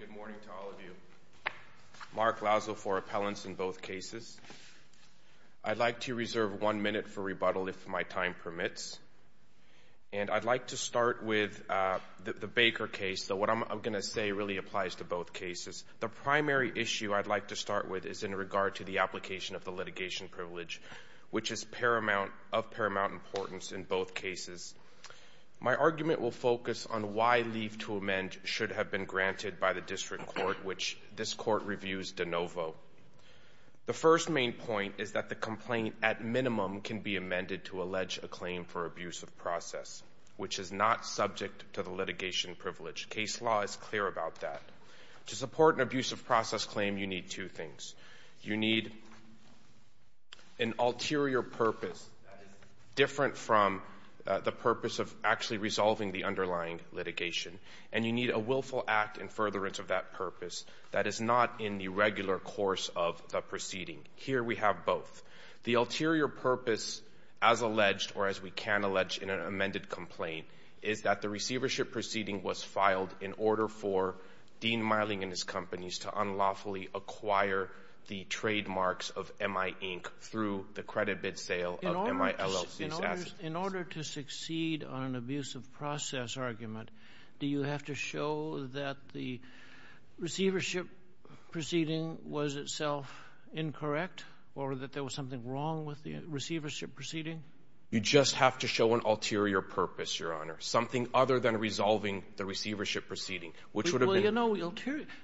Good morning to all of you. Mark Lauzo for appellants in both cases. I'd like to reserve one minute for rebuttal if my time permits. And I'd like to start with the Baker case, though what I'm going to say really applies to both cases. The primary issue I'd like to start with is in regard to the application of the litigation privilege, which is of paramount importance in both cases. My argument will focus on why leave to amend should have been granted by the district court, which this court reviews de novo. The first main point is that the complaint, at minimum, can be amended to allege a claim for abuse of process, which is not subject to the litigation privilege. Case law is clear about that. To support an amendment, you need two things. You need an ulterior purpose that is different from the purpose of actually resolving the underlying litigation. And you need a willful act in furtherance of that purpose that is not in the regular course of the proceeding. Here, we have both. The ulterior purpose, as alleged or as we can allege in an amended complaint, is that the receivership proceeding was filed in order for Dean Meiling and his companies to unlawfully acquire the trademarks of M.I. Inc. through the credit bid sale of M.I. LLC's assets. In order to succeed on an abuse of process argument, do you have to show that the receivership proceeding was itself incorrect or that there was something wrong with the receivership proceeding? You just have to show an ulterior purpose, Your Honor, something other than resolving the receivership proceeding, which would have been —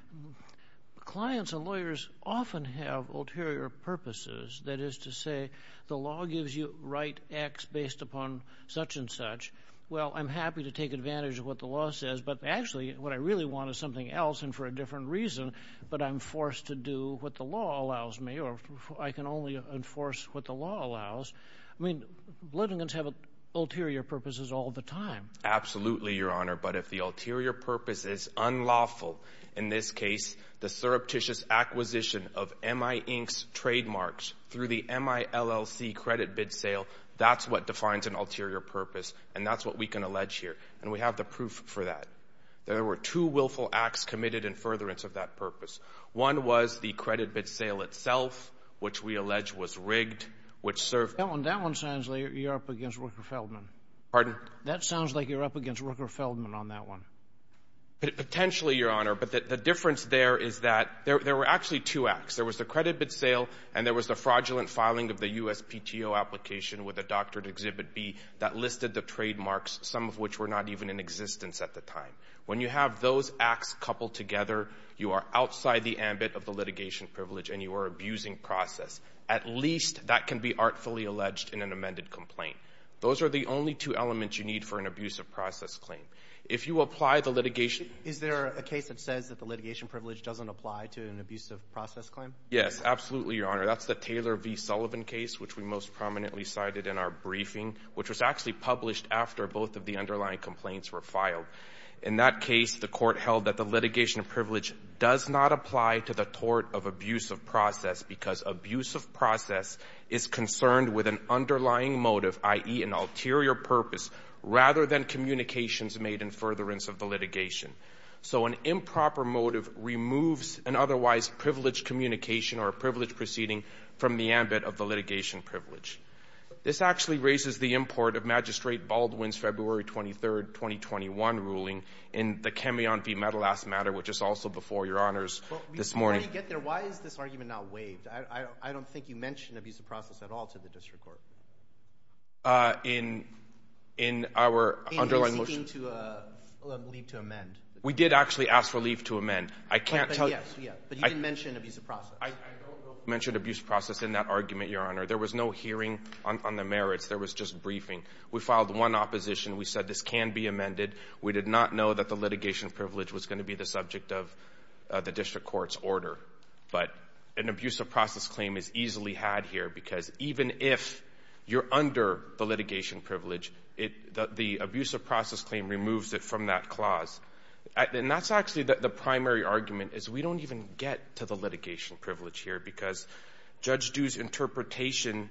Clients and lawyers often have ulterior purposes. That is to say, the law gives you right X based upon such and such. Well, I'm happy to take advantage of what the law says, but actually, what I really want is something else and for a different reason. But I'm forced to do what the law allows me, or I can only enforce what the law allows. I mean, litigants have ulterior purposes all the time. Absolutely, Your Honor. But if the ulterior purpose is unlawful, in this case, the surreptitious acquisition of M.I. Inc.'s trademarks through the M.I. LLC credit bid sale, that's what defines an ulterior purpose, and that's what we can allege here. And we have the proof for that. There were two willful acts committed in furtherance of that purpose. One was the credit bid sale itself, which we allege was rigged, which served — That one — that one sounds like you're up against Rooker Feldman. Pardon? That sounds like you're up against Rooker Feldman on that one. Potentially, Your Honor. But the difference there is that there were actually two acts. There was the credit bid sale, and there was the fraudulent filing of the USPTO application with a doctored Exhibit B that listed the trademarks, some of which were not even in existence at the time. When you have those acts coupled together, you are outside the ambit of the litigation privilege, and you are abusing process. At least that can be artfully alleged in an amended complaint. Those are the only two elements you need for an abusive process claim. If you apply the litigation — Is there a case that says that the litigation privilege doesn't apply to an abusive process claim? Yes, absolutely, Your Honor. That's the Taylor v. Sullivan case, which we most prominently cited in our briefing, which was actually published after both of the underlying complaints were filed. In that case, the Court held that the litigation privilege does not apply to the tort of abusive process because abusive process is concerned with an underlying motive, i.e., an ulterior purpose, rather than communications made in furtherance of the litigation. So an improper motive removes an otherwise privileged communication or a privileged proceeding from the ambit of the litigation privilege. This actually raises the import of Magistrate Baldwin's February 23, 2021, ruling in the Camion v. Metalass Matter, which is also before Your Honors this morning. Before we get there, why is this argument not waived? I don't think you mentioned abusive process at all to the District Court. In our underlying motion... In seeking to leave to amend. We did actually ask for leave to amend. I can't tell you... Yes, but you didn't mention abusive process. I don't know if we mentioned abusive process in that argument, Your Honor. There was no hearing on the merits. There was just briefing. We filed one opposition. We said this can be amended. We did not know that the litigation privilege was going to be the subject of the District Court's order. But an abusive process claim is easily had here because even if you're under the litigation privilege, the abusive process claim removes it from that clause. And that's actually the primary argument is we don't even get to the litigation privilege here because Judge Du's interpretation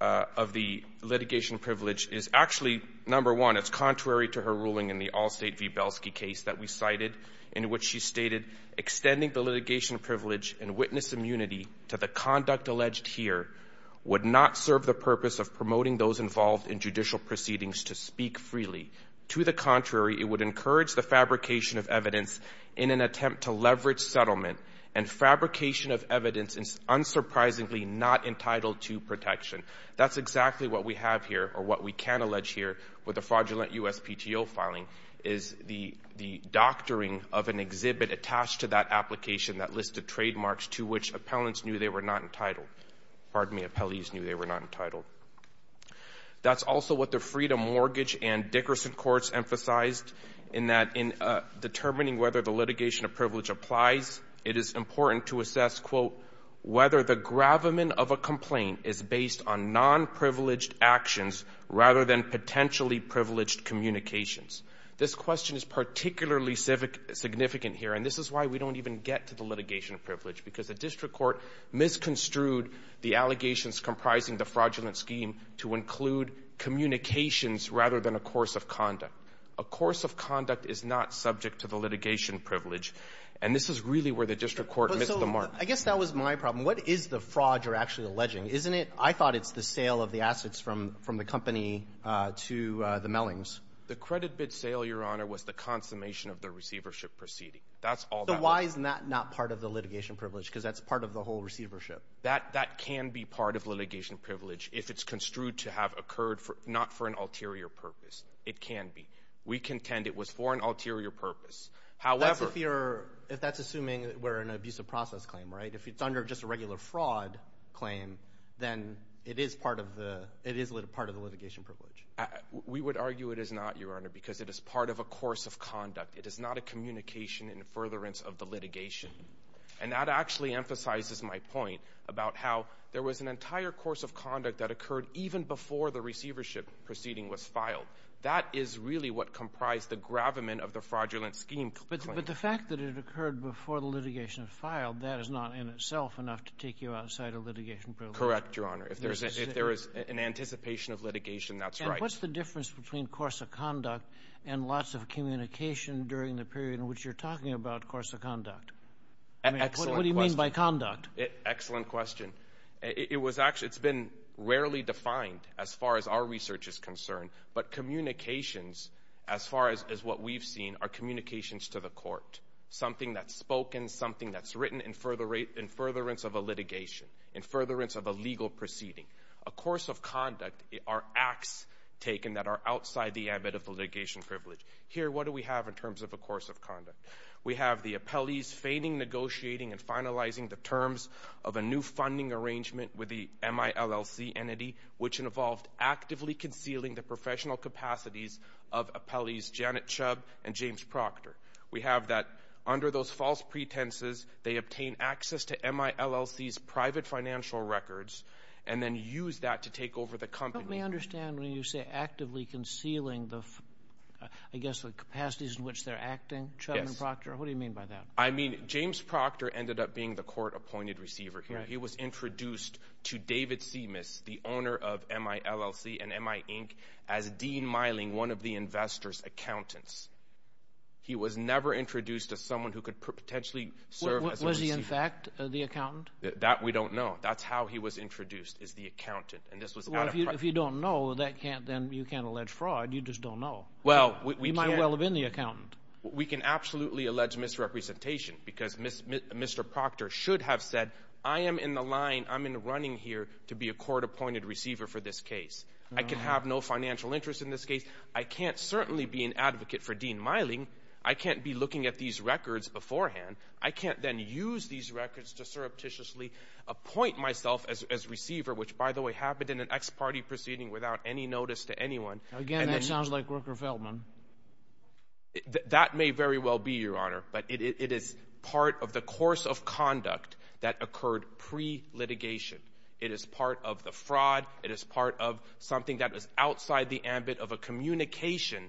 of the litigation privilege is actually, number one, it's contrary to her ruling in the Allstate v. Belsky case that we cited in which she argued that the conduct alleged here would not serve the purpose of promoting those involved in judicial proceedings to speak freely. To the contrary, it would encourage the fabrication of evidence in an attempt to leverage settlement and fabrication of evidence is unsurprisingly not entitled to protection. That's exactly what we have here or what we can allege here with the fraudulent USPTO filing is the doctoring of an exhibit attached to that application that listed trademarks to which appellants knew they were not entitled. Pardon me, appellees knew they were not entitled. That's also what the Freedom Mortgage and Dickerson courts emphasized in that in determining whether the litigation of privilege applies, it is important to assess, quote, whether the gravamen of a complaint is based on nonprivileged actions rather than potentially privileged communications. This question is particularly civic — significant here, and this is why we don't even get to the litigation of privilege, because the district court misconstrued the allegations comprising the fraudulent scheme to include communications rather than a course of conduct. A course of conduct is not subject to the litigation of privilege, and this is really where the district court missed the mark. So I guess that was my problem. What is the fraud you're actually alleging? Isn't it — I thought it's the sale of the assets from the company to the Mellings. The credit bid sale, Your Honor, was the consummation of the receivership proceeding. That's all that was. So why isn't that not part of the litigation of the receivership? That can be part of litigation of privilege if it's construed to have occurred not for an ulterior purpose. It can be. We contend it was for an ulterior purpose. However — That's if you're — if that's assuming we're an abusive process claim, right? If it's under just a regular fraud claim, then it is part of the litigation of privilege. We would argue it is not, Your Honor, because it is part of a course of conduct. It is not a communication in furtherance of the litigation. And that actually emphasizes my point about how there was an entire course of conduct that occurred even before the receivership proceeding was filed. That is really what comprised the gravamen of the fraudulent scheme claim. But the fact that it occurred before the litigation was filed, that is not in itself enough to take you outside of litigation of privilege. Correct, Your Honor. If there is an anticipation of litigation, that's right. And what's the difference between course of conduct and lots of communication during the period in which you're talking about course of conduct? Excellent question. What do you mean by conduct? Excellent question. It was actually — it's been rarely defined as far as our research is concerned. But communications, as far as what we've seen, are communications to the court, something that's spoken, something that's written in furtherance of a litigation, in furtherance of a legal proceeding. A course of conduct are acts taken that are outside the ambit of the litigation privilege. Here, what do we have in terms of a course of conduct? We have the appellees fading, negotiating, and finalizing the terms of a new funding arrangement with the MILLC entity, which involved actively concealing the professional capacities of appellees Janet Chubb and James Proctor. We have that under those false pretenses, they obtain access to MILLC's private financial records and then use that to take over the company. Help me understand when you say actively concealing the, I guess, the capacities in which they're acting, Chubb and Proctor? What do you mean by that? I mean, James Proctor ended up being the court-appointed receiver here. He was introduced to David Simas, the owner of MILLC and MI Inc., as Dean Miling, one of the investor's accountants. He was never introduced as someone who could potentially serve as a receiver. Was he, in fact, the accountant? That we don't know. That's how he was introduced, is the accountant. And this was out of — Well, if you don't know, then you can't allege fraud. You just don't know. Well, we can't — He might well have been the accountant. We can absolutely allege misrepresentation because Mr. Proctor should have said, I am in the line, I'm in the running here to be a court-appointed receiver for this case. I can have no financial interest in this case. I can't certainly be an advocate for Dean Miling. I can't be looking at these records beforehand. I can't then use these records to surreptitiously appoint myself as receiver, which, by the way, happened in an ex-party proceeding without any notice to anyone. Again, that sounds like Rooker Feldman. That may very well be, Your Honor. But it is part of the course of conduct that occurred pre-litigation. It is part of the fraud. It is part of something that was outside the ambit of a communication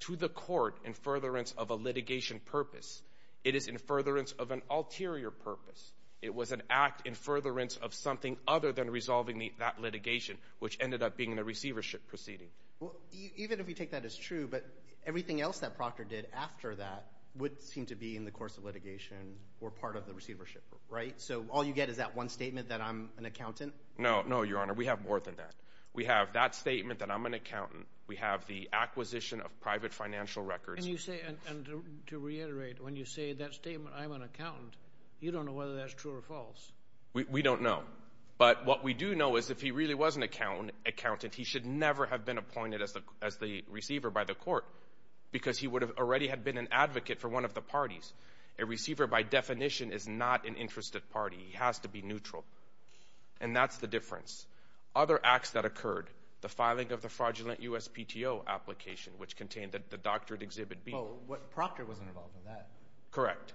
to the court in furtherance of a litigation purpose. It is in furtherance of an ulterior purpose. It was an act in furtherance of something other than resolving that litigation, which ended up being a receivership proceeding. Even if you take that as true, but everything else that Proctor did after that would seem to be in the course of litigation or part of the receivership, right? So all you get is that one statement that I'm an accountant? No, Your Honor. We have more than that. We have that statement that I'm an accountant. We have the acquisition of private financial records. And to reiterate, when you say that statement, I'm an accountant, you don't know whether that's true or false. We don't know. But what we do know is if he really was an accountant, he should never have been appointed as the receiver by the court because he would have already been an advocate for one of the parties. A receiver, by definition, is not an interested party. He has to be neutral. And that's the difference. Other acts that occurred, the filing of the fraudulent USPTO application, which contained the doctored Exhibit B. Oh, Proctor wasn't involved in that. Correct.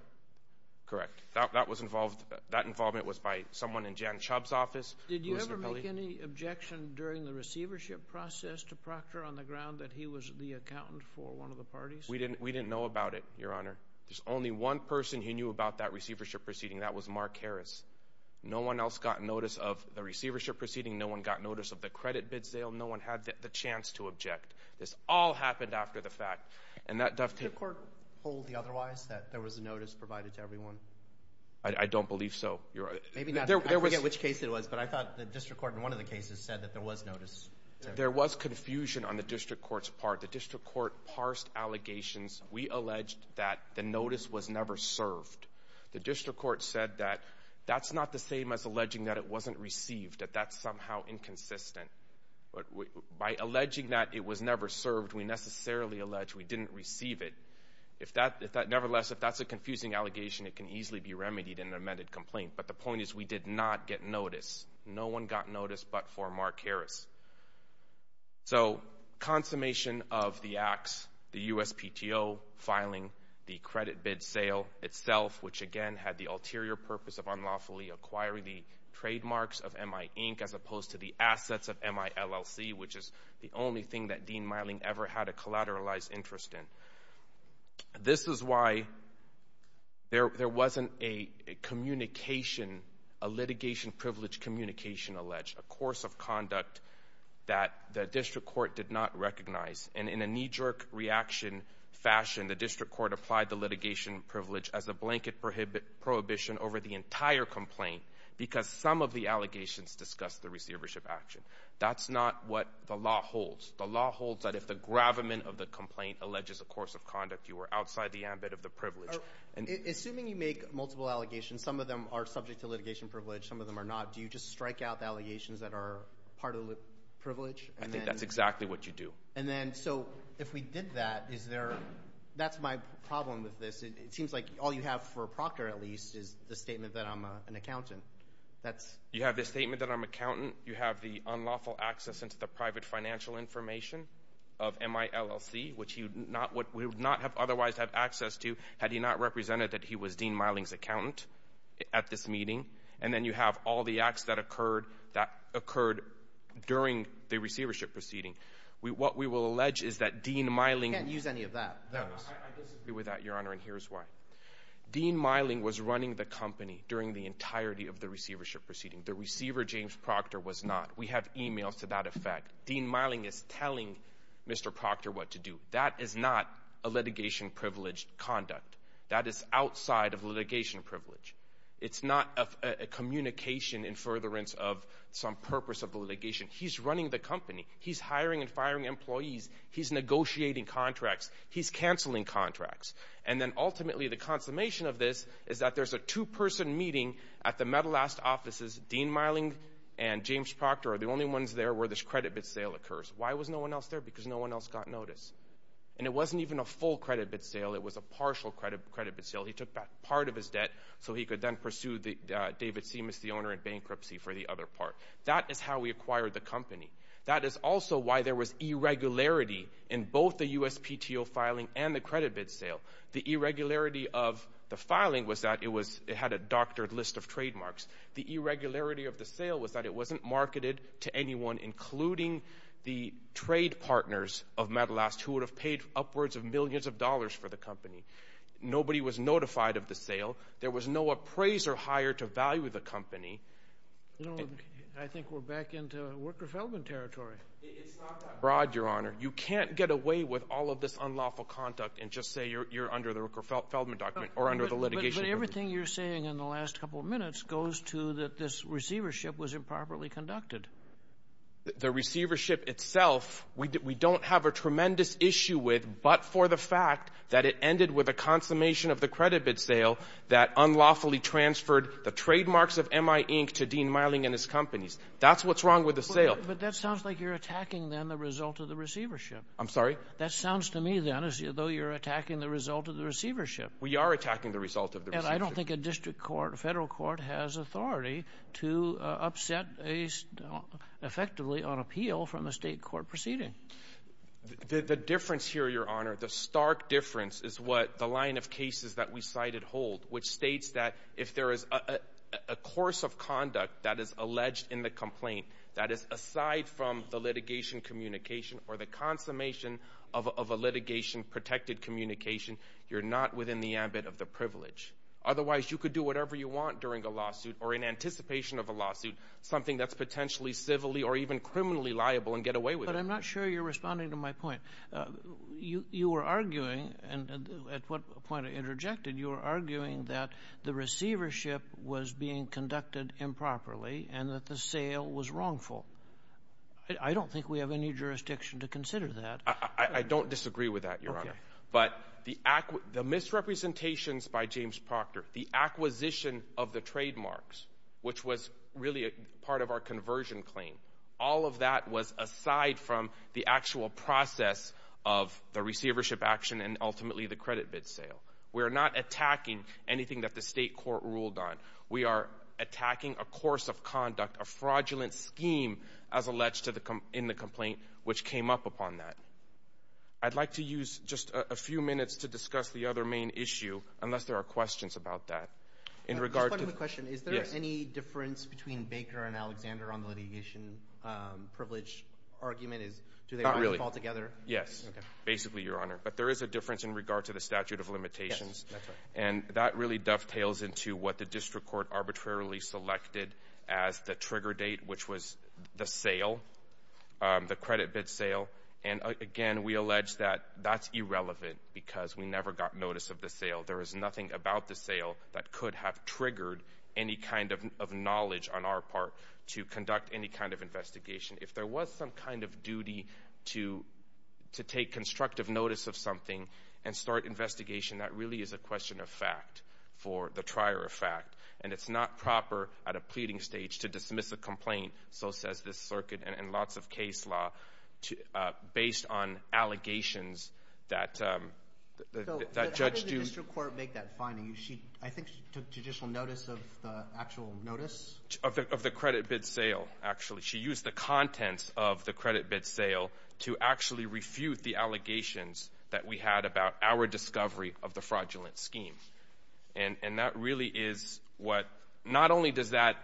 Correct. That involvement was by someone in Jan Chubb's office. Did you ever make any objection during the receivership process to Proctor on the ground that he was the accountant for one of the parties? We didn't know about it, Your Honor. There's only one person who knew about that receivership proceeding, and that was Mark Harris. No one else got notice of the receivership proceeding. No one got notice of the credit bids sale. No one had the chance to object. This all happened after the fact. Did the court hold the otherwise, that there was a notice provided to everyone? I don't believe so. I forget which case it was, but I thought the district court in one of the cases said that there was notice. There was confusion on the district court's part. The district court parsed allegations. We alleged that the notice was never served. The district court said that that's not the same as alleging that it wasn't received, that that's somehow inconsistent. By alleging that it was never served, we necessarily allege we didn't receive it. Nevertheless, if that's a confusing allegation, it can easily be remedied in an amended complaint. But the point is we did not get notice. No one got notice but for Mark Harris. So consummation of the acts, the USPTO filing the credit bid sale itself, which, again, had the ulterior purpose of unlawfully acquiring the trademarks of MI, Inc., which is the only thing that Dean Meiling ever had a collateralized interest in. This is why there wasn't a litigation privilege communication alleged, a course of conduct that the district court did not recognize. And in a knee-jerk reaction fashion, the district court applied the litigation privilege as a blanket prohibition over the entire complaint because some of the allegations discussed the receivership action. That's not what the law holds. The law holds that if the gravamen of the complaint alleges a course of conduct, you are outside the ambit of the privilege. Assuming you make multiple allegations, some of them are subject to litigation privilege, some of them are not, do you just strike out the allegations that are part of the privilege? I think that's exactly what you do. And then so if we did that, is there—that's my problem with this. It seems like all you have for a proctor, at least, is the statement that I'm an accountant. You have the statement that I'm an accountant. You have the unlawful access into the private financial information of MILLC, which he would not have otherwise had access to had he not represented that he was Dean Meiling's accountant at this meeting. And then you have all the acts that occurred during the receivership proceeding. What we will allege is that Dean Meiling— You can't use any of that, though. I disagree with that, Your Honor, and here's why. Dean Meiling was running the company during the entirety of the receivership proceeding. The receiver, James Proctor, was not. We have e-mails to that effect. Dean Meiling is telling Mr. Proctor what to do. That is not a litigation-privileged conduct. That is outside of litigation privilege. It's not a communication in furtherance of some purpose of the litigation. He's running the company. He's hiring and firing employees. He's negotiating contracts. He's canceling contracts. And then ultimately the consummation of this is that there's a two-person meeting at the Metalast offices. Dean Meiling and James Proctor are the only ones there where this credit-bid sale occurs. Why was no one else there? Because no one else got notice. And it wasn't even a full credit-bid sale. It was a partial credit-bid sale. He took back part of his debt so he could then pursue David Seamus, the owner, in bankruptcy for the other part. That is how we acquired the company. That is also why there was irregularity in both the USPTO filing and the credit-bid sale. The irregularity of the filing was that it had a doctored list of trademarks. The irregularity of the sale was that it wasn't marketed to anyone, including the trade partners of Metalast, who would have paid upwards of millions of dollars for the company. Nobody was notified of the sale. There was no appraiser hired to value the company. I think we're back into Rooker-Feldman territory. It's not that broad, Your Honor. You can't get away with all of this unlawful conduct and just say you're under the Rooker-Feldman document or under the litigation. But everything you're saying in the last couple of minutes goes to that this receivership was improperly conducted. The receivership itself we don't have a tremendous issue with, but for the fact that it ended with a consummation of the credit-bid sale that unlawfully transferred the trademarks of M.I. Inc. to Dean Meiling and his companies, that's what's wrong with the sale. But that sounds like you're attacking, then, the result of the receivership. I'm sorry? That sounds to me, then, as though you're attacking the result of the receivership. We are attacking the result of the receivership. And I don't think a district court, a Federal court, has authority to upset effectively on appeal from a State court proceeding. The difference here, Your Honor, the stark difference is what the line of cases that we cited hold, which states that if there is a course of conduct that is alleged in the complaint that is aside from the litigation communication or the consummation of a litigation-protected communication, you're not within the ambit of the privilege. Otherwise, you could do whatever you want during a lawsuit or in anticipation of a lawsuit, something that's potentially civilly or even criminally liable and get away with it. But I'm not sure you're responding to my point. You were arguing, and at what point I interjected, you were arguing that the receivership was being conducted improperly and that the sale was wrongful. I don't think we have any jurisdiction to consider that. I don't disagree with that, Your Honor. But the misrepresentations by James Proctor, the acquisition of the trademarks, which was really part of our conversion claim, all of that was aside from the actual process of the receivership action and ultimately the credit bid sale. We are not attacking anything that the state court ruled on. We are attacking a course of conduct, a fraudulent scheme as alleged in the complaint which came up upon that. I'd like to use just a few minutes to discuss the other main issue, unless there are questions about that. In regard to the question, is there any difference between Baker and Alexander on the litigation privilege argument? Not really. Do they fall together? Yes, basically, Your Honor. But there is a difference in regard to the statute of limitations. Yes, that's right. And that really dovetails into what the district court arbitrarily selected as the trigger date, which was the sale, the credit bid sale. And, again, we allege that that's irrelevant because we never got notice of the sale. There is nothing about the sale that could have triggered any kind of knowledge on our part to conduct any kind of investigation. If there was some kind of duty to take constructive notice of something and start investigation, that really is a question of fact for the trier of fact. And it's not proper at a pleading stage to dismiss a complaint, so says this circuit and lots of case law, based on allegations that judge do. Did the district court make that finding? I think she took judicial notice of the actual notice. Of the credit bid sale, actually. She used the contents of the credit bid sale to actually refute the allegations that we had about our discovery of the fraudulent scheme. And that really is what not only does that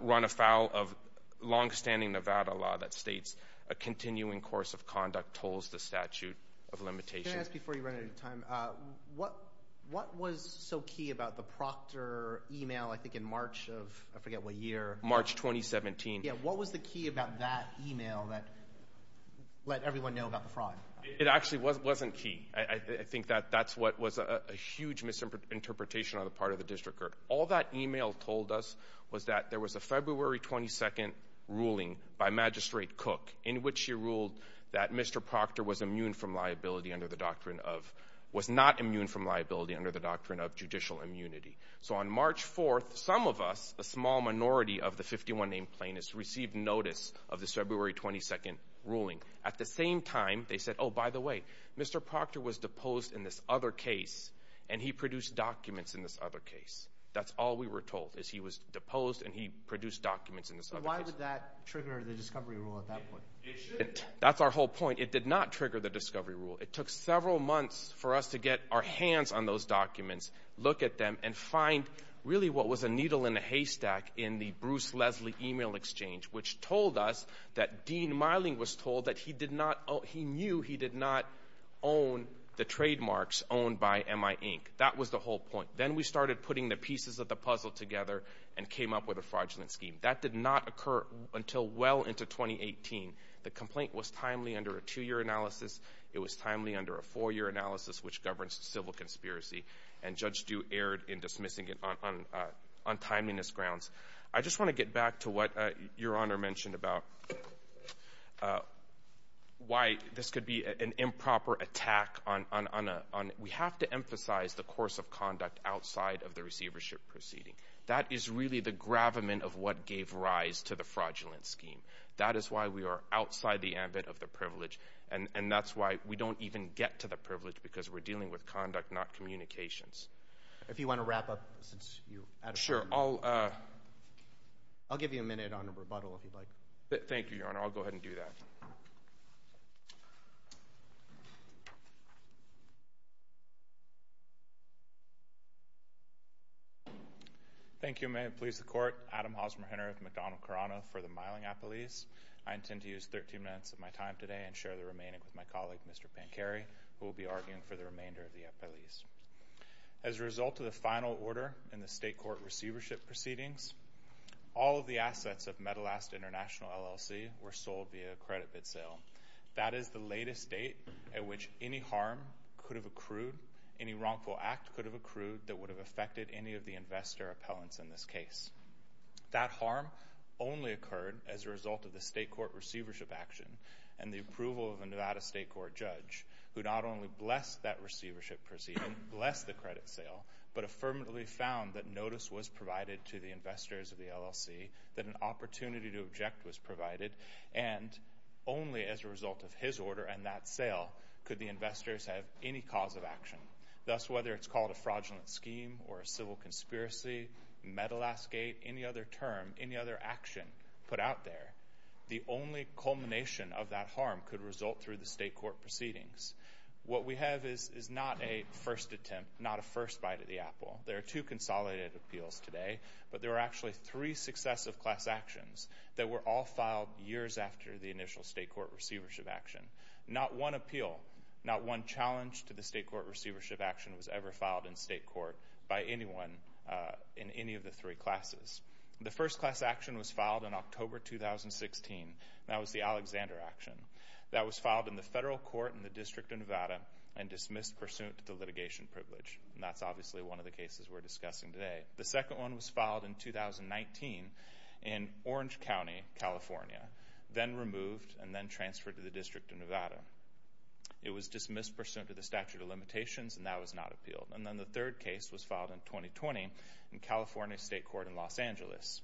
run afoul of longstanding Nevada law that states a continuing course of conduct tolls the statute of limitations. Can I ask before you run out of time, what was so key about the Proctor email, I think, in March of, I forget what year. March 2017. Yeah, what was the key about that email that let everyone know about the fraud? It actually wasn't key. I think that that's what was a huge misinterpretation on the part of the district court. All that email told us was that there was a February 22nd ruling by Magistrate Cook in which she ruled that Mr. Proctor was not immune from liability under the doctrine of judicial immunity. So on March 4th, some of us, a small minority of the 51 named plaintiffs, received notice of the February 22nd ruling. At the same time, they said, oh, by the way, Mr. Proctor was deposed in this other case, and he produced documents in this other case. That's all we were told, is he was deposed and he produced documents in this other case. So why did that trigger the discovery rule at that point? That's our whole point. It did not trigger the discovery rule. It took several months for us to get our hands on those documents, look at them, and find really what was a needle in a haystack in the Bruce Leslie email exchange, which told us that Dean Meiling was told that he knew he did not own the trademarks owned by MI, Inc. That was the whole point. Then we started putting the pieces of the puzzle together and came up with a fraudulent scheme. That did not occur until well into 2018. The complaint was timely under a two-year analysis. It was timely under a four-year analysis, which governs civil conspiracy, and Judge Due erred in dismissing it on timeliness grounds. I just want to get back to what Your Honor mentioned about why this could be an improper attack on a – we have to emphasize the course of conduct outside of the receivership proceeding. That is really the gravamen of what gave rise to the fraudulent scheme. That is why we are outside the ambit of the privilege, and that's why we don't even get to the privilege because we're dealing with conduct, not communications. If you want to wrap up, since you – Sure. I'll give you a minute on rebuttal if you'd like. Thank you, Your Honor. I'll go ahead and do that. Thank you. May it please the Court. Adam Hosmer-Henreth, McDonnell-Carano for the Miling Appellees. I intend to use 13 minutes of my time today and share the remaining with my colleague, Mr. Pancari, who will be arguing for the remainder of the appellees. As a result of the final order in the state court receivership proceedings, all of the assets of Metalast International LLC were sold via a credit bid sale. That is the latest date at which any harm could have accrued, any wrongful act could have accrued that would have affected any of the investor appellants in this case. That harm only occurred as a result of the state court receivership action and the approval of a Nevada state court judge, who not only blessed that receivership proceeding, blessed the credit sale, but affirmatively found that notice was provided to the investors of the LLC, that an opportunity to object was provided, and only as a result of his order and that sale could the investors have any cause of action. Thus, whether it's called a fraudulent scheme or a civil conspiracy, Metalastgate, any other term, any other action put out there, the only culmination of that harm could result through the state court proceedings. What we have is not a first attempt, not a first bite of the apple. There are two consolidated appeals today, but there are actually three successive class actions that were all filed years after the initial state court receivership action. Not one appeal, not one challenge to the state court receivership action was ever filed in state court by anyone in any of the three classes. The first class action was filed in October 2016. That was the Alexander action. That was filed in the federal court in the District of Nevada and dismissed pursuant to litigation privilege, and that's obviously one of the cases we're discussing today. The second one was filed in 2019 in Orange County, California, then removed and then transferred to the District of Nevada. It was dismissed pursuant to the statute of limitations, and that was not appealed. And then the third case was filed in 2020 in California State Court in Los Angeles,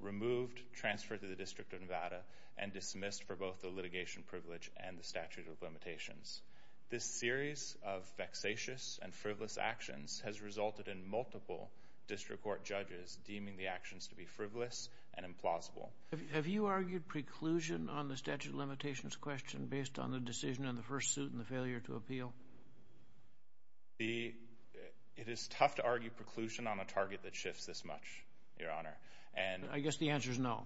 removed, transferred to the District of Nevada, and dismissed for both the litigation privilege and the statute of limitations. This series of vexatious and frivolous actions has resulted in multiple district court judges deeming the actions to be frivolous and implausible. Have you argued preclusion on the statute of limitations question based on the decision on the first suit and the failure to appeal? It is tough to argue preclusion on a target that shifts this much, Your Honor. I guess the answer is no.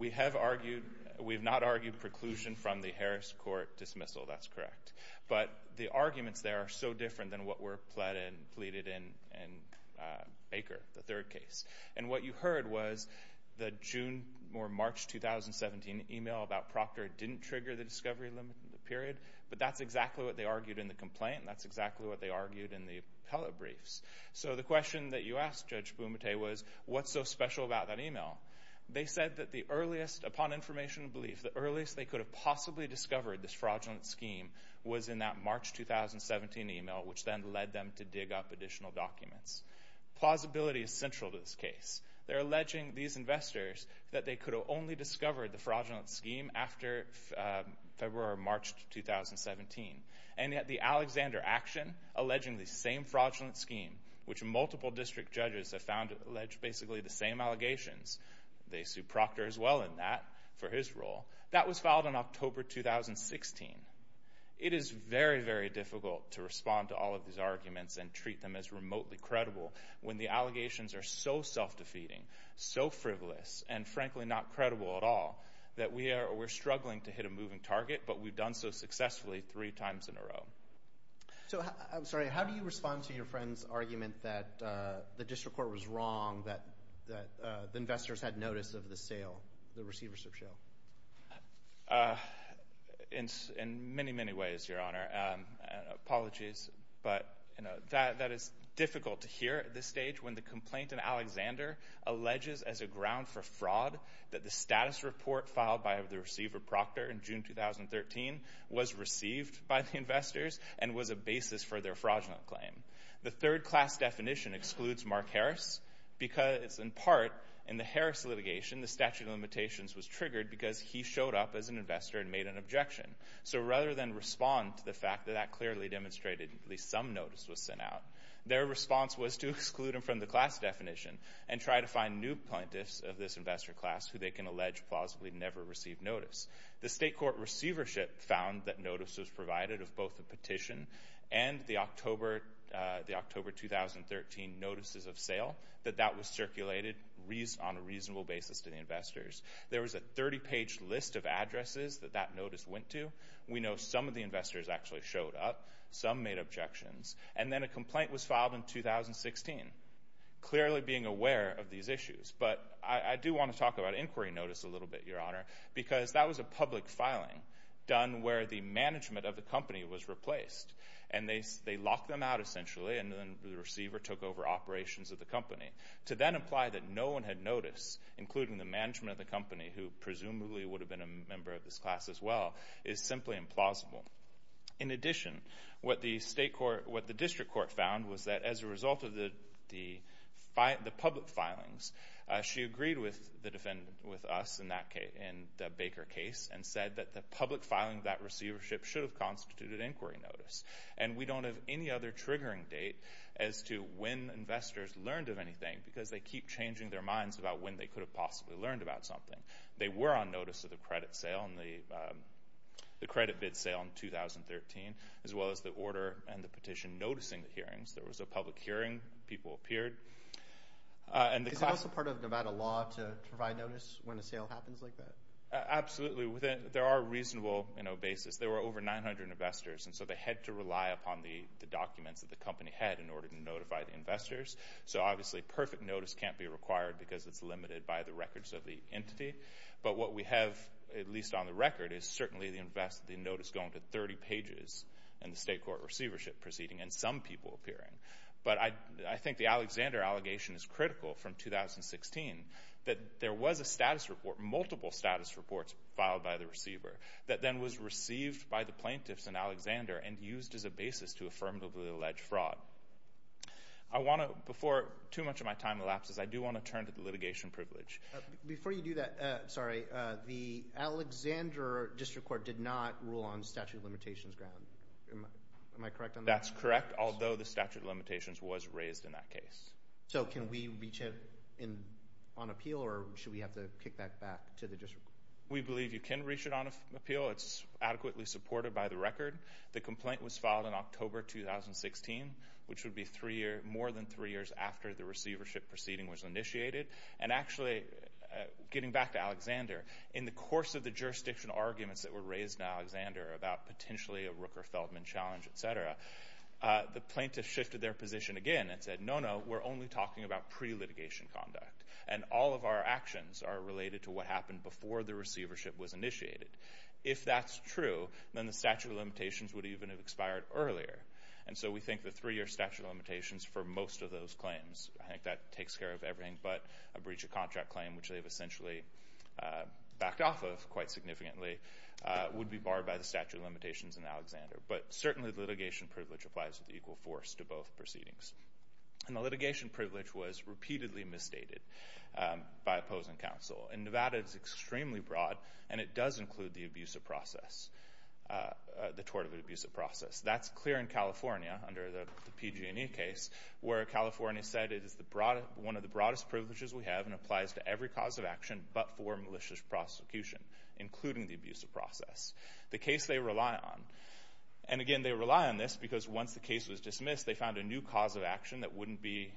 We have argued. We have not argued preclusion from the Harris Court dismissal. That's correct. But the arguments there are so different than what were pleaded in Baker, the third case. And what you heard was the June or March 2017 email about Proctor didn't trigger the discovery limit period, but that's exactly what they argued in the complaint and that's exactly what they argued in the appellate briefs. So the question that you asked, Judge Bumate, was what's so special about that email? They said that the earliest, upon information and belief, the earliest they could have possibly discovered this fraudulent scheme was in that March 2017 email, which then led them to dig up additional documents. Plausibility is central to this case. They're alleging, these investors, that they could have only discovered the fraudulent scheme after February or March 2017. And yet the Alexander action, alleging the same fraudulent scheme, which multiple district judges have found allege basically the same allegations. They sued Proctor as well in that for his role. That was filed in October 2016. It is very, very difficult to respond to all of these arguments and treat them as remotely credible when the allegations are so self-defeating, so frivolous, and frankly not credible at all, that we're struggling to hit a moving target, but we've done so successfully three times in a row. I'm sorry. How do you respond to your friend's argument that the district court was wrong, that the investors had notice of the sale, the receivership sale? In many, many ways, Your Honor. Apologies, but that is difficult to hear at this stage when the complainant, Alexander, alleges as a ground for fraud that the status report filed by the receiver, Proctor, in June 2013 was received by the investors and was a basis for their fraudulent claim. The third class definition excludes Mark Harris because, in part, in the Harris litigation, the statute of limitations was triggered because he showed up as an investor and made an objection. So rather than respond to the fact that that clearly demonstrated at least some notice was sent out, their response was to exclude him from the class definition and try to find new plaintiffs of this investor class who they can allege plausibly never received notice. The state court receivership found that notice was provided of both the petition and the October 2013 notices of sale, that that was circulated on a reasonable basis to the investors. There was a 30-page list of addresses that that notice went to. We know some of the investors actually showed up. Some made objections. And then a complaint was filed in 2016, clearly being aware of these issues. Because that was a public filing done where the management of the company was replaced. And they locked them out, essentially, and then the receiver took over operations of the company. To then imply that no one had noticed, including the management of the company, who presumably would have been a member of this class as well, is simply implausible. In addition, what the district court found was that as a result of the public filings, she agreed with us in the Baker case and said that the public filing of that receivership should have constituted inquiry notice. And we don't have any other triggering date as to when investors learned of anything, because they keep changing their minds about when they could have possibly learned about something. They were on notice of the credit bid sale in 2013, as well as the order and the petition noticing the hearings. There was a public hearing. People appeared. Is it also part of Nevada law to provide notice when a sale happens like that? Absolutely. There are reasonable bases. There were over 900 investors, and so they had to rely upon the documents that the company had in order to notify the investors. So obviously, perfect notice can't be required because it's limited by the records of the entity. But what we have, at least on the record, is certainly the notice going to 30 pages in the state court receivership proceeding and some people appearing. But I think the Alexander allegation is critical from 2016 that there was a status report, multiple status reports filed by the receiver, that then was received by the plaintiffs in Alexander and used as a basis to affirmatively allege fraud. Before too much of my time elapses, I do want to turn to the litigation privilege. Before you do that, sorry, the Alexander District Court did not rule on statute of limitations ground. Am I correct on that? That's correct, although the statute of limitations was raised in that case. So can we reach it on appeal, or should we have to kick that back to the district? We believe you can reach it on appeal. It's adequately supported by the record. The complaint was filed in October 2016, which would be more than three years after the receivership proceeding was initiated. And actually, getting back to Alexander, in the course of the jurisdiction arguments that were raised in Alexander about potentially a Rooker-Feldman challenge, etc., the plaintiffs shifted their position again and said, no, no, we're only talking about pre-litigation conduct, and all of our actions are related to what happened before the receivership was initiated. If that's true, then the statute of limitations would even have expired earlier. And so we think the three-year statute of limitations for most of those claims, I think that takes care of everything, but a breach of contract claim, which they've essentially backed off of quite significantly, would be barred by the statute of limitations in Alexander. But certainly the litigation privilege applies with equal force to both proceedings. And the litigation privilege was repeatedly misstated by opposing counsel. In Nevada, it's extremely broad, and it does include the tort of an abusive process. That's clear in California under the PG&E case, where California said it is one of the broadest privileges we have and applies to every cause of action but for malicious prosecution, including the abusive process. The case they rely on. And again, they rely on this because once the case was dismissed, they found a new cause of action that wouldn't be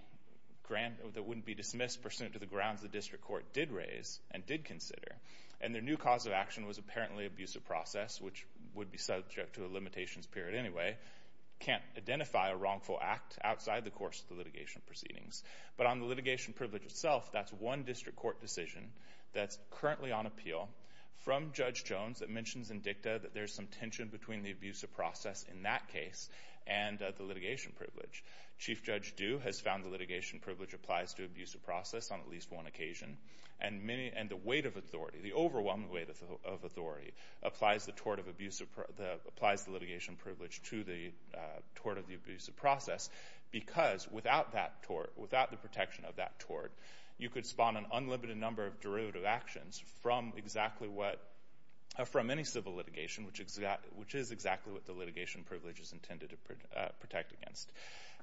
dismissed pursuant to the grounds the district court did raise and did consider. And their new cause of action was apparently abusive process, which would be subject to a limitations period anyway. Can't identify a wrongful act outside the course of the litigation proceedings. But on the litigation privilege itself, that's one district court decision that's currently on appeal from Judge Jones that mentions in dicta that there's some tension between the abusive process in that case and the litigation privilege. Chief Judge Due has found the litigation privilege applies to abusive process on at least one occasion. And the weight of authority, the overwhelming weight of authority applies the litigation privilege to the tort of the abusive process because without that tort, without the protection of that tort, you could spawn an unlimited number of derivative actions from exactly what... from any civil litigation, which is exactly what the litigation privilege is intended to protect against.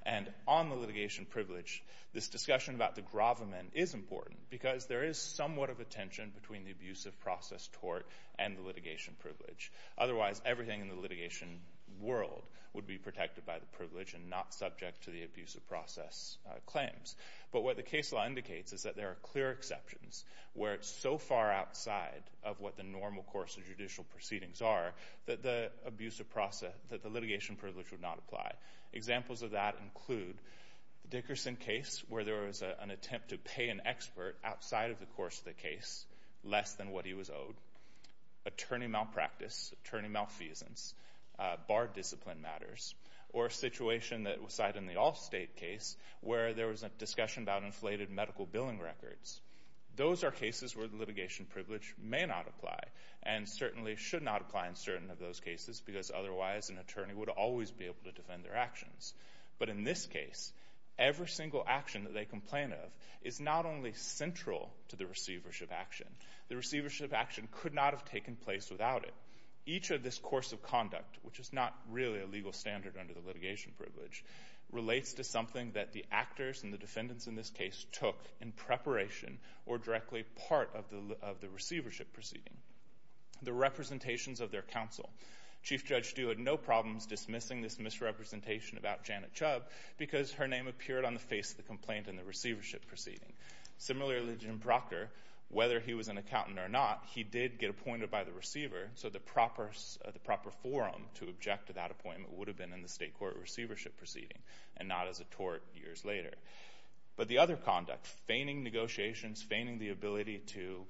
And on the litigation privilege, this discussion about the gravamen is important because there is somewhat of a tension between the abusive process tort and the litigation privilege. Otherwise, everything in the litigation world would be protected by the privilege and not subject to the abusive process claims. But what the case law indicates is that there are clear exceptions where it's so far outside of what the normal course of judicial proceedings are that the abuse of process... that the litigation privilege would not apply. Examples of that include the Dickerson case where there was an attempt to pay an expert outside of the course of the case less than what he was owed, attorney malpractice, attorney malfeasance, bar discipline matters, or a situation that was cited in the Allstate case where there was a discussion about inflated medical billing records. Those are cases where the litigation privilege may not apply and certainly should not apply in certain of those cases because otherwise an attorney would always be able to defend their actions. But in this case, every single action that they complain of is not only central to the receivership action. The receivership action could not have taken place without it. Each of this course of conduct, which is not really a legal standard under the litigation privilege, relates to something that the actors and the defendants in this case took in preparation or directly part of the receivership proceeding. The representations of their counsel. Chief Judge Stu had no problems dismissing this misrepresentation about Janet Chubb because her name appeared on the face of the complaint in the receivership proceeding. Similarly, Jim Proctor, whether he was an accountant or not, he did get appointed by the receiver, so the proper forum to object to that appointment would have been in the state court receivership proceeding and not as a tort years later. But the other conduct, feigning negotiations, feigning the ability to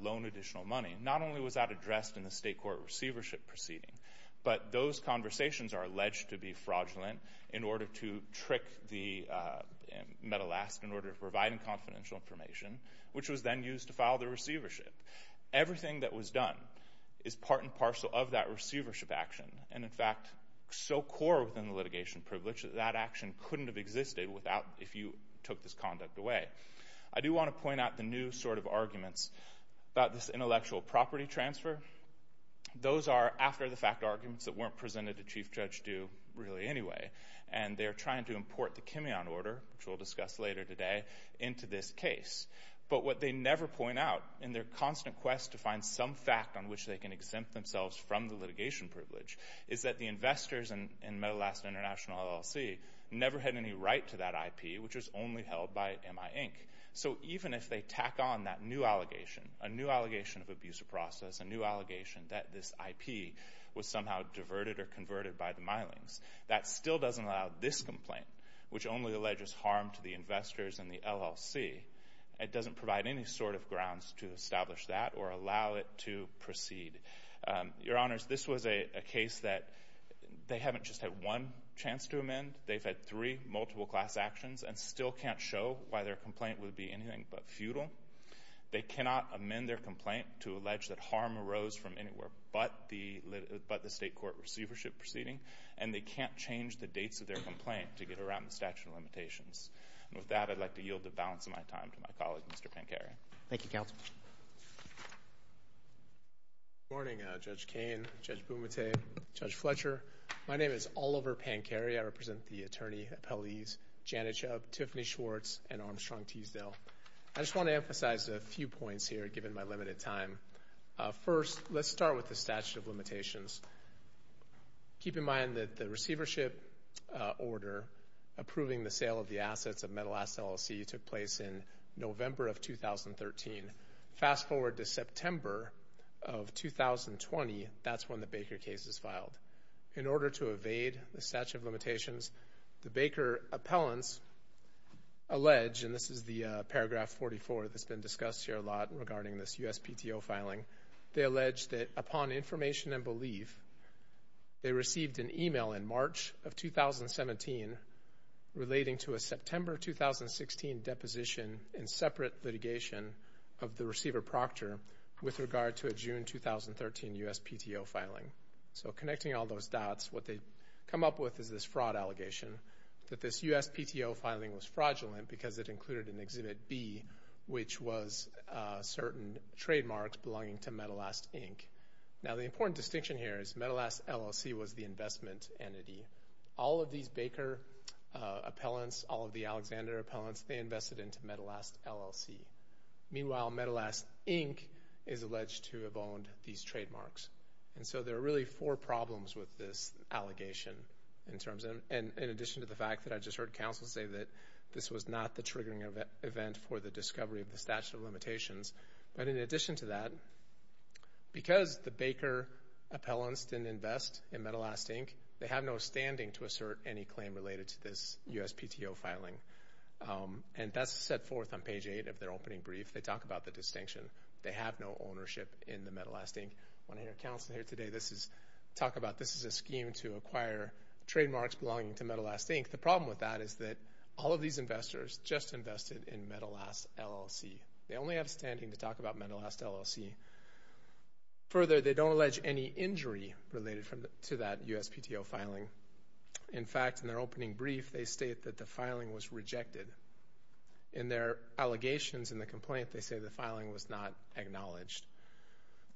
loan additional money, not only was that addressed in the state court receivership proceeding, but those conversations are alleged to be fraudulent in order to trick the... in order to provide confidential information, which was then used to file the receivership. Everything that was done is part and parcel of that receivership action, and, in fact, so core within the litigation privilege that that action couldn't have existed if you took this conduct away. I do want to point out the new sort of arguments about this intellectual property transfer. Those are after-the-fact arguments that weren't presented to Chief Judge Stu really anyway, and they're trying to import the Kimeon order, which we'll discuss later today, into this case. But what they never point out in their constant quest to find some fact on which they can exempt themselves from the litigation privilege is that the investors in Metal Asset International LLC never had any right to that IP, which was only held by MI, Inc. So even if they tack on that new allegation, a new allegation of abuse of process, a new allegation that this IP was somehow diverted or converted by the Mylings, that still doesn't allow this complaint, which only alleges harm to the investors and the LLC, it doesn't provide any sort of grounds to establish that or allow it to proceed. Your Honors, this was a case that they haven't just had one chance to amend. They've had three multiple-class actions and still can't show why their complaint would be anything but futile. They cannot amend their complaint to allege that harm arose from anywhere but the state court receivership proceeding, and they can't change the dates of their complaint to get around the statute of limitations. And with that, I'd like to yield the balance of my time to my colleague, Mr. Pinker. Thank you, Counsel. Good morning, Judge Koehn, Judge Bumate, Judge Fletcher. My name is Oliver Pankeri. I represent the attorney, appellees Janet Chubb, Tiffany Schwartz, and Armstrong Teasdale. I just want to emphasize a few points here, given my limited time. First, let's start with the statute of limitations. Keep in mind that the receivership order approving the sale of the assets of Metal Ass LLC took place in November of 2013. Fast forward to September of 2020. That's when the Baker case is filed. In order to evade the statute of limitations, the Baker appellants allege, and this is the paragraph 44 that's been discussed here a lot regarding this USPTO filing, they allege that upon information and belief, they received an email in March of 2017 relating to a September 2016 deposition and separate litigation of the receiver Proctor with regard to a June 2013 USPTO filing. So connecting all those dots, what they come up with is this fraud allegation that this USPTO filing was fraudulent because it included an Exhibit B, which was certain trademarks belonging to Metal Ass, Inc. Now, the important distinction here is Metal Ass LLC was the investment entity. All of these Baker appellants, all of the Alexander appellants, they invested into Metal Ass LLC. Meanwhile, Metal Ass, Inc. is alleged to have owned these trademarks. And so there are really four problems with this allegation in addition to the fact that I just heard counsel say that this was not the triggering event for the discovery of the statute of limitations. But in addition to that, because the Baker appellants didn't invest in Metal Ass, Inc., they have no standing to assert any claim related to this USPTO filing. And that's set forth on page 8 of their opening brief. They talk about the distinction. They have no ownership in the Metal Ass, Inc. When I hear counsel here today talk about this is a scheme to acquire trademarks belonging to Metal Ass, Inc., the problem with that is that all of these investors just invested in Metal Ass, LLC. They only have standing to talk about Metal Ass, LLC. Further, they don't allege any injury related to that USPTO filing. In fact, in their opening brief, they state that the filing was rejected. In their allegations in the complaint, they say the filing was not acknowledged.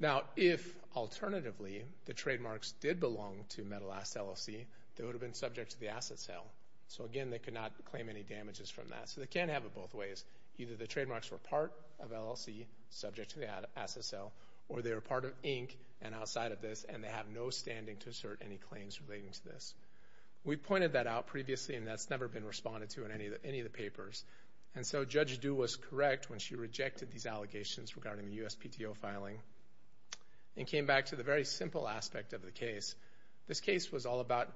Now, if, alternatively, the trademarks did belong to Metal Ass, LLC, they would have been subject to the asset sale. So again, they could not claim any damages from that. So they can't have it both ways. Either the trademarks were part of LLC, subject to the asset sale, or they were part of Inc. and outside of this, and they have no standing to assert any claims relating to this. We pointed that out previously, and that's never been responded to in any of the papers. And so Judge Du was correct when she rejected these allegations regarding the USPTO filing and came back to the very simple aspect of the case. This case was all about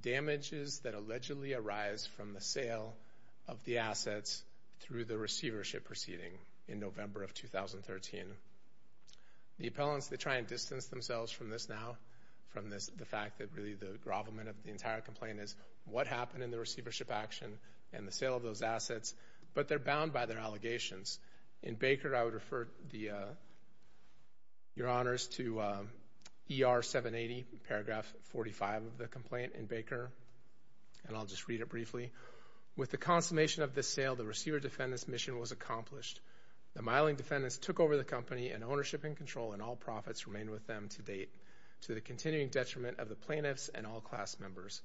damages that allegedly arise from the sale of the assets through the receivership proceeding in November of 2013. The appellants, they try and distance themselves from this now, from the fact that really the grovelment of the entire complaint is what happened in the receivership action and the sale of those assets, but they're bound by their allegations. In Baker, I would refer your honors to ER 780, paragraph 45 of the complaint in Baker, and I'll just read it briefly. With the consummation of this sale, the receiver-defendant's mission was accomplished. The miling defendants took over the company and ownership and control and all profits remained with them to date, to the continuing detriment of the plaintiffs and all class members.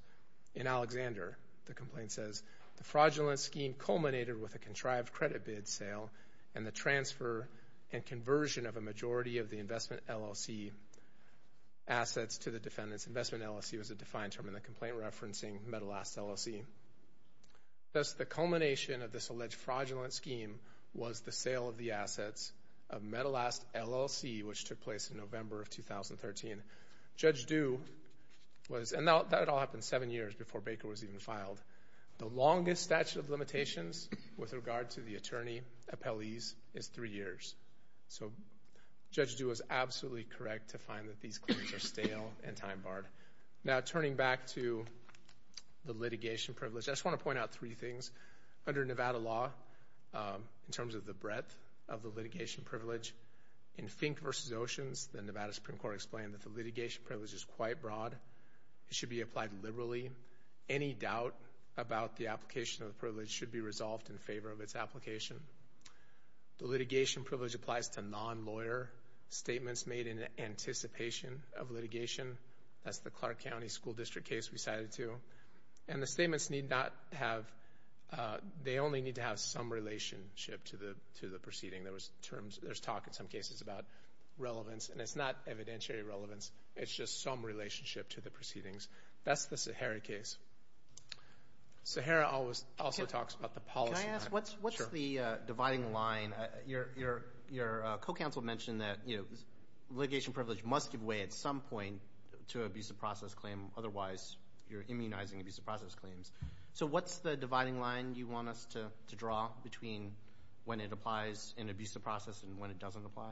In Alexander, the complaint says, the fraudulent scheme culminated with a contrived credit bid sale and the transfer and conversion of a majority of the investment LLC assets to the defendants. This investment LLC was a defined term in the complaint, referencing metal-ass LLC. Thus, the culmination of this alleged fraudulent scheme was the sale of the assets of metal-ass LLC, which took place in November of 2013. Judge Due was, and that all happened seven years before Baker was even filed. The longest statute of limitations with regard to the attorney appellees is three years. So Judge Due was absolutely correct to find that these claims are stale and time-barred. Now, turning back to the litigation privilege, I just want to point out three things. Under Nevada law, in terms of the breadth of the litigation privilege, in Fink v. Oceans, the Nevada Supreme Court explained that the litigation privilege is quite broad. It should be applied liberally. Any doubt about the application of the privilege should be resolved in favor of its application. The litigation privilege applies to non-lawyer statements made in anticipation of litigation. That's the Clark County School District case we cited, too. And the statements need not have, they only need to have some relationship to the proceeding. There's talk in some cases about relevance, and it's not evidentiary relevance. It's just some relationship to the proceedings. That's the Sahara case. Sahara also talks about the policy. Can I ask, what's the dividing line? Your co-counsel mentioned that litigation privilege must give way at some point to an abusive process claim. Otherwise, you're immunizing abusive process claims. So what's the dividing line you want us to draw between when it applies in an abusive process and when it doesn't apply?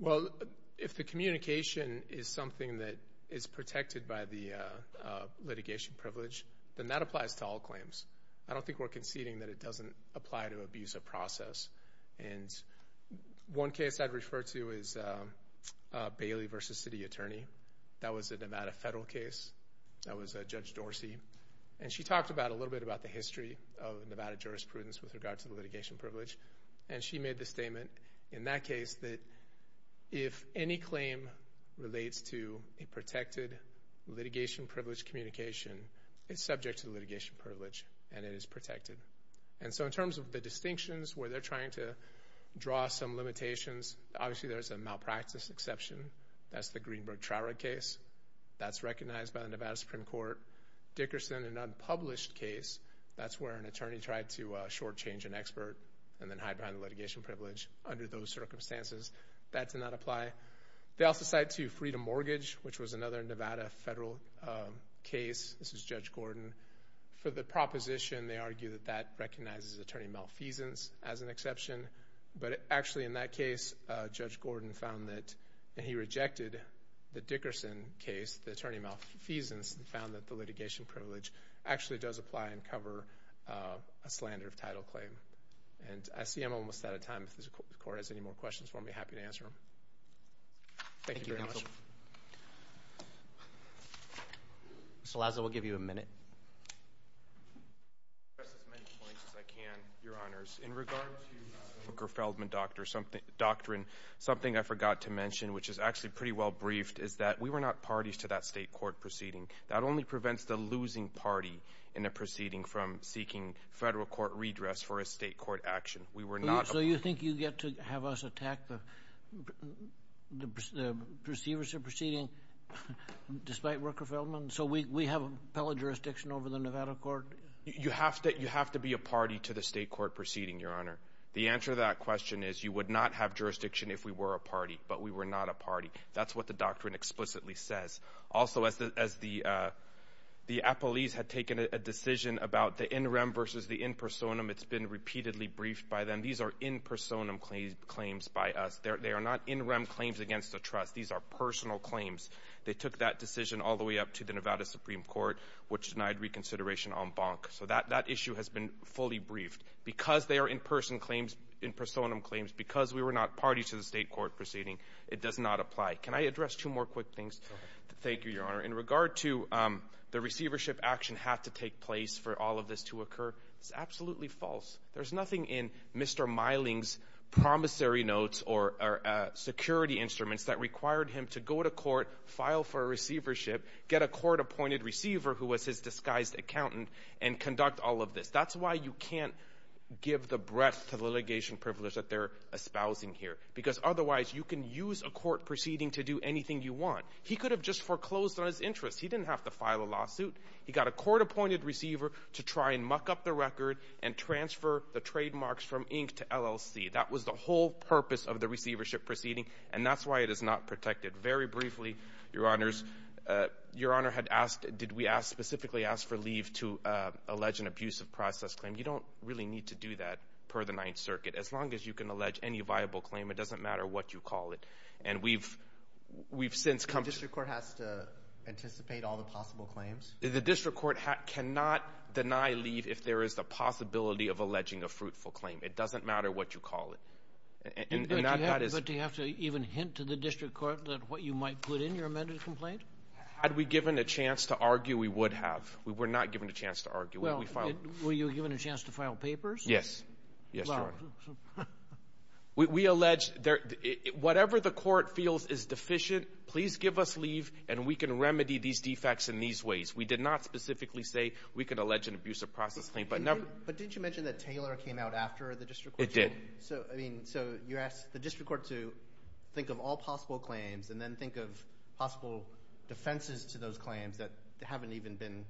Well, if the communication is something that is protected by the litigation privilege, then that applies to all claims. I don't think we're conceding that it doesn't apply to abusive process. And one case I'd refer to is Bailey v. City Attorney. That was a Nevada federal case. That was Judge Dorsey. And she talked a little bit about the history of Nevada jurisprudence with regard to the litigation privilege. And she made the statement in that case that if any claim relates to a protected litigation privilege communication, it's subject to the litigation privilege, and it is protected. And so in terms of the distinctions where they're trying to draw some limitations, obviously there's a malpractice exception. That's the Greenberg-Traurig case. That's recognized by the Nevada Supreme Court. Dickerson, an unpublished case, that's where an attorney tried to shortchange an expert and then hide behind the litigation privilege. Under those circumstances, that did not apply. They also cite, too, Freedom Mortgage, which was another Nevada federal case. This is Judge Gordon. For the proposition, they argue that that recognizes attorney malfeasance as an exception. But actually in that case, Judge Gordon found that, and he rejected the Dickerson case, the attorney malfeasance, and found that the litigation privilege actually does apply and cover a slander of title claim. And I see I'm almost out of time. If the Court has any more questions for me, happy to answer them. Thank you very much. Mr. Laza, we'll give you a minute. I'll address as many points as I can, Your Honors. In regard to the Feldman Doctrine, something I forgot to mention, which is actually pretty well briefed, is that we were not parties to that state court proceeding. That only prevents the losing party in a proceeding from seeking federal court redress for a state court action. So you think you get to have us attack the receivers of the proceeding despite Rooker-Feldman? So we have appellate jurisdiction over the Nevada court? You have to be a party to the state court proceeding, Your Honor. The answer to that question is you would not have jurisdiction if we were a party, but we were not a party. That's what the doctrine explicitly says. Also, as the appellees had taken a decision about the in rem versus the in personam, it's been repeatedly briefed by them. These are in personam claims by us. They are not in rem claims against a trust. These are personal claims. They took that decision all the way up to the Nevada Supreme Court, which denied reconsideration en banc. So that issue has been fully briefed. Because they are in person claims, in personam claims, because we were not parties to the state court proceeding, it does not apply. Can I address two more quick things? Thank you, Your Honor. In regard to the receivership action have to take place for all of this to occur, it's absolutely false. There's nothing in Mr. Miling's promissory notes or security instruments that required him to go to court, file for receivership, get a court-appointed receiver who was his disguised accountant, and conduct all of this. That's why you can't give the breadth of litigation privilege that they're espousing here, because otherwise you can use a court proceeding to do anything you want. He could have just foreclosed on his interests. He didn't have to file a lawsuit. He got a court-appointed receiver to try and muck up the record and transfer the trademarks from Inc. to LLC. That was the whole purpose of the receivership proceeding, and that's why it is not protected. Very briefly, Your Honors, Your Honor had asked, did we ask, specifically asked for leave to allege an abusive process claim. You don't really need to do that per the Ninth Circuit. As long as you can allege any viable claim, it doesn't matter what you call it. And we've since come to the point. The district court has to anticipate all the possible claims? The district court cannot deny leave if there is the possibility of alleging a fruitful claim. It doesn't matter what you call it. But do you have to even hint to the district court what you might put in your amended complaint? Had we given a chance to argue, we would have. We were not given a chance to argue. Yes. Yes, Your Honor. We allege whatever the court feels is deficient, please give us leave and we can remedy these defects in these ways. We did not specifically say we could allege an abusive process claim. But didn't you mention that Taylor came out after the district court? It did. So, I mean, you asked the district court to think of all possible claims and then think of possible defenses to those claims that haven't even been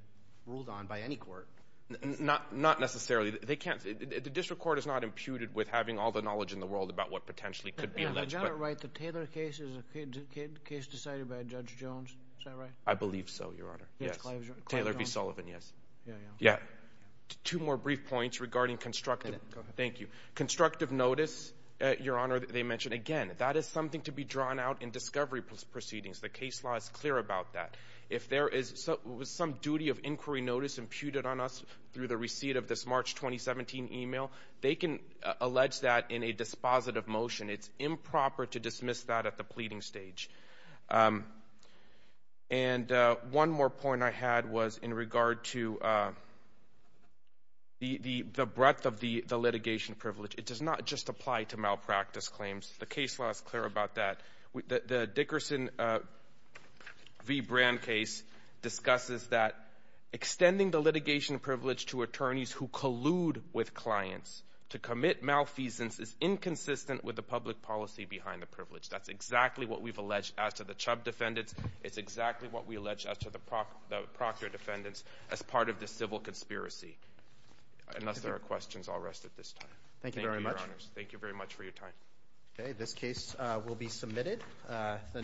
ruled on by any court. Not necessarily. The district court is not imputed with having all the knowledge in the world about what potentially could be alleged. Is that right? The Taylor case is a case decided by Judge Jones. Is that right? I believe so, Your Honor. Yes. Taylor v. Sullivan, yes. Yeah. Two more brief points regarding constructive. Thank you. Constructive notice, Your Honor, they mentioned. Again, that is something to be drawn out in discovery proceedings. The case law is clear about that. If there is some duty of inquiry notice imputed on us through the receipt of this March 2017 email, they can allege that in a dispositive motion. It's improper to dismiss that at the pleading stage. And one more point I had was in regard to the breadth of the litigation privilege. It does not just apply to malpractice claims. The case law is clear about that. The Dickerson v. Brand case discusses that extending the litigation privilege to attorneys who collude with clients to commit malfeasance is inconsistent with the public policy behind the privilege. That's exactly what we've alleged as to the Chubb defendants. It's exactly what we allege as to the Proctor defendants as part of the civil conspiracy. Unless there are questions, I'll rest at this time. Thank you very much. Thank you, Your Honors. Thank you very much for your time. Okay, this case will be submitted.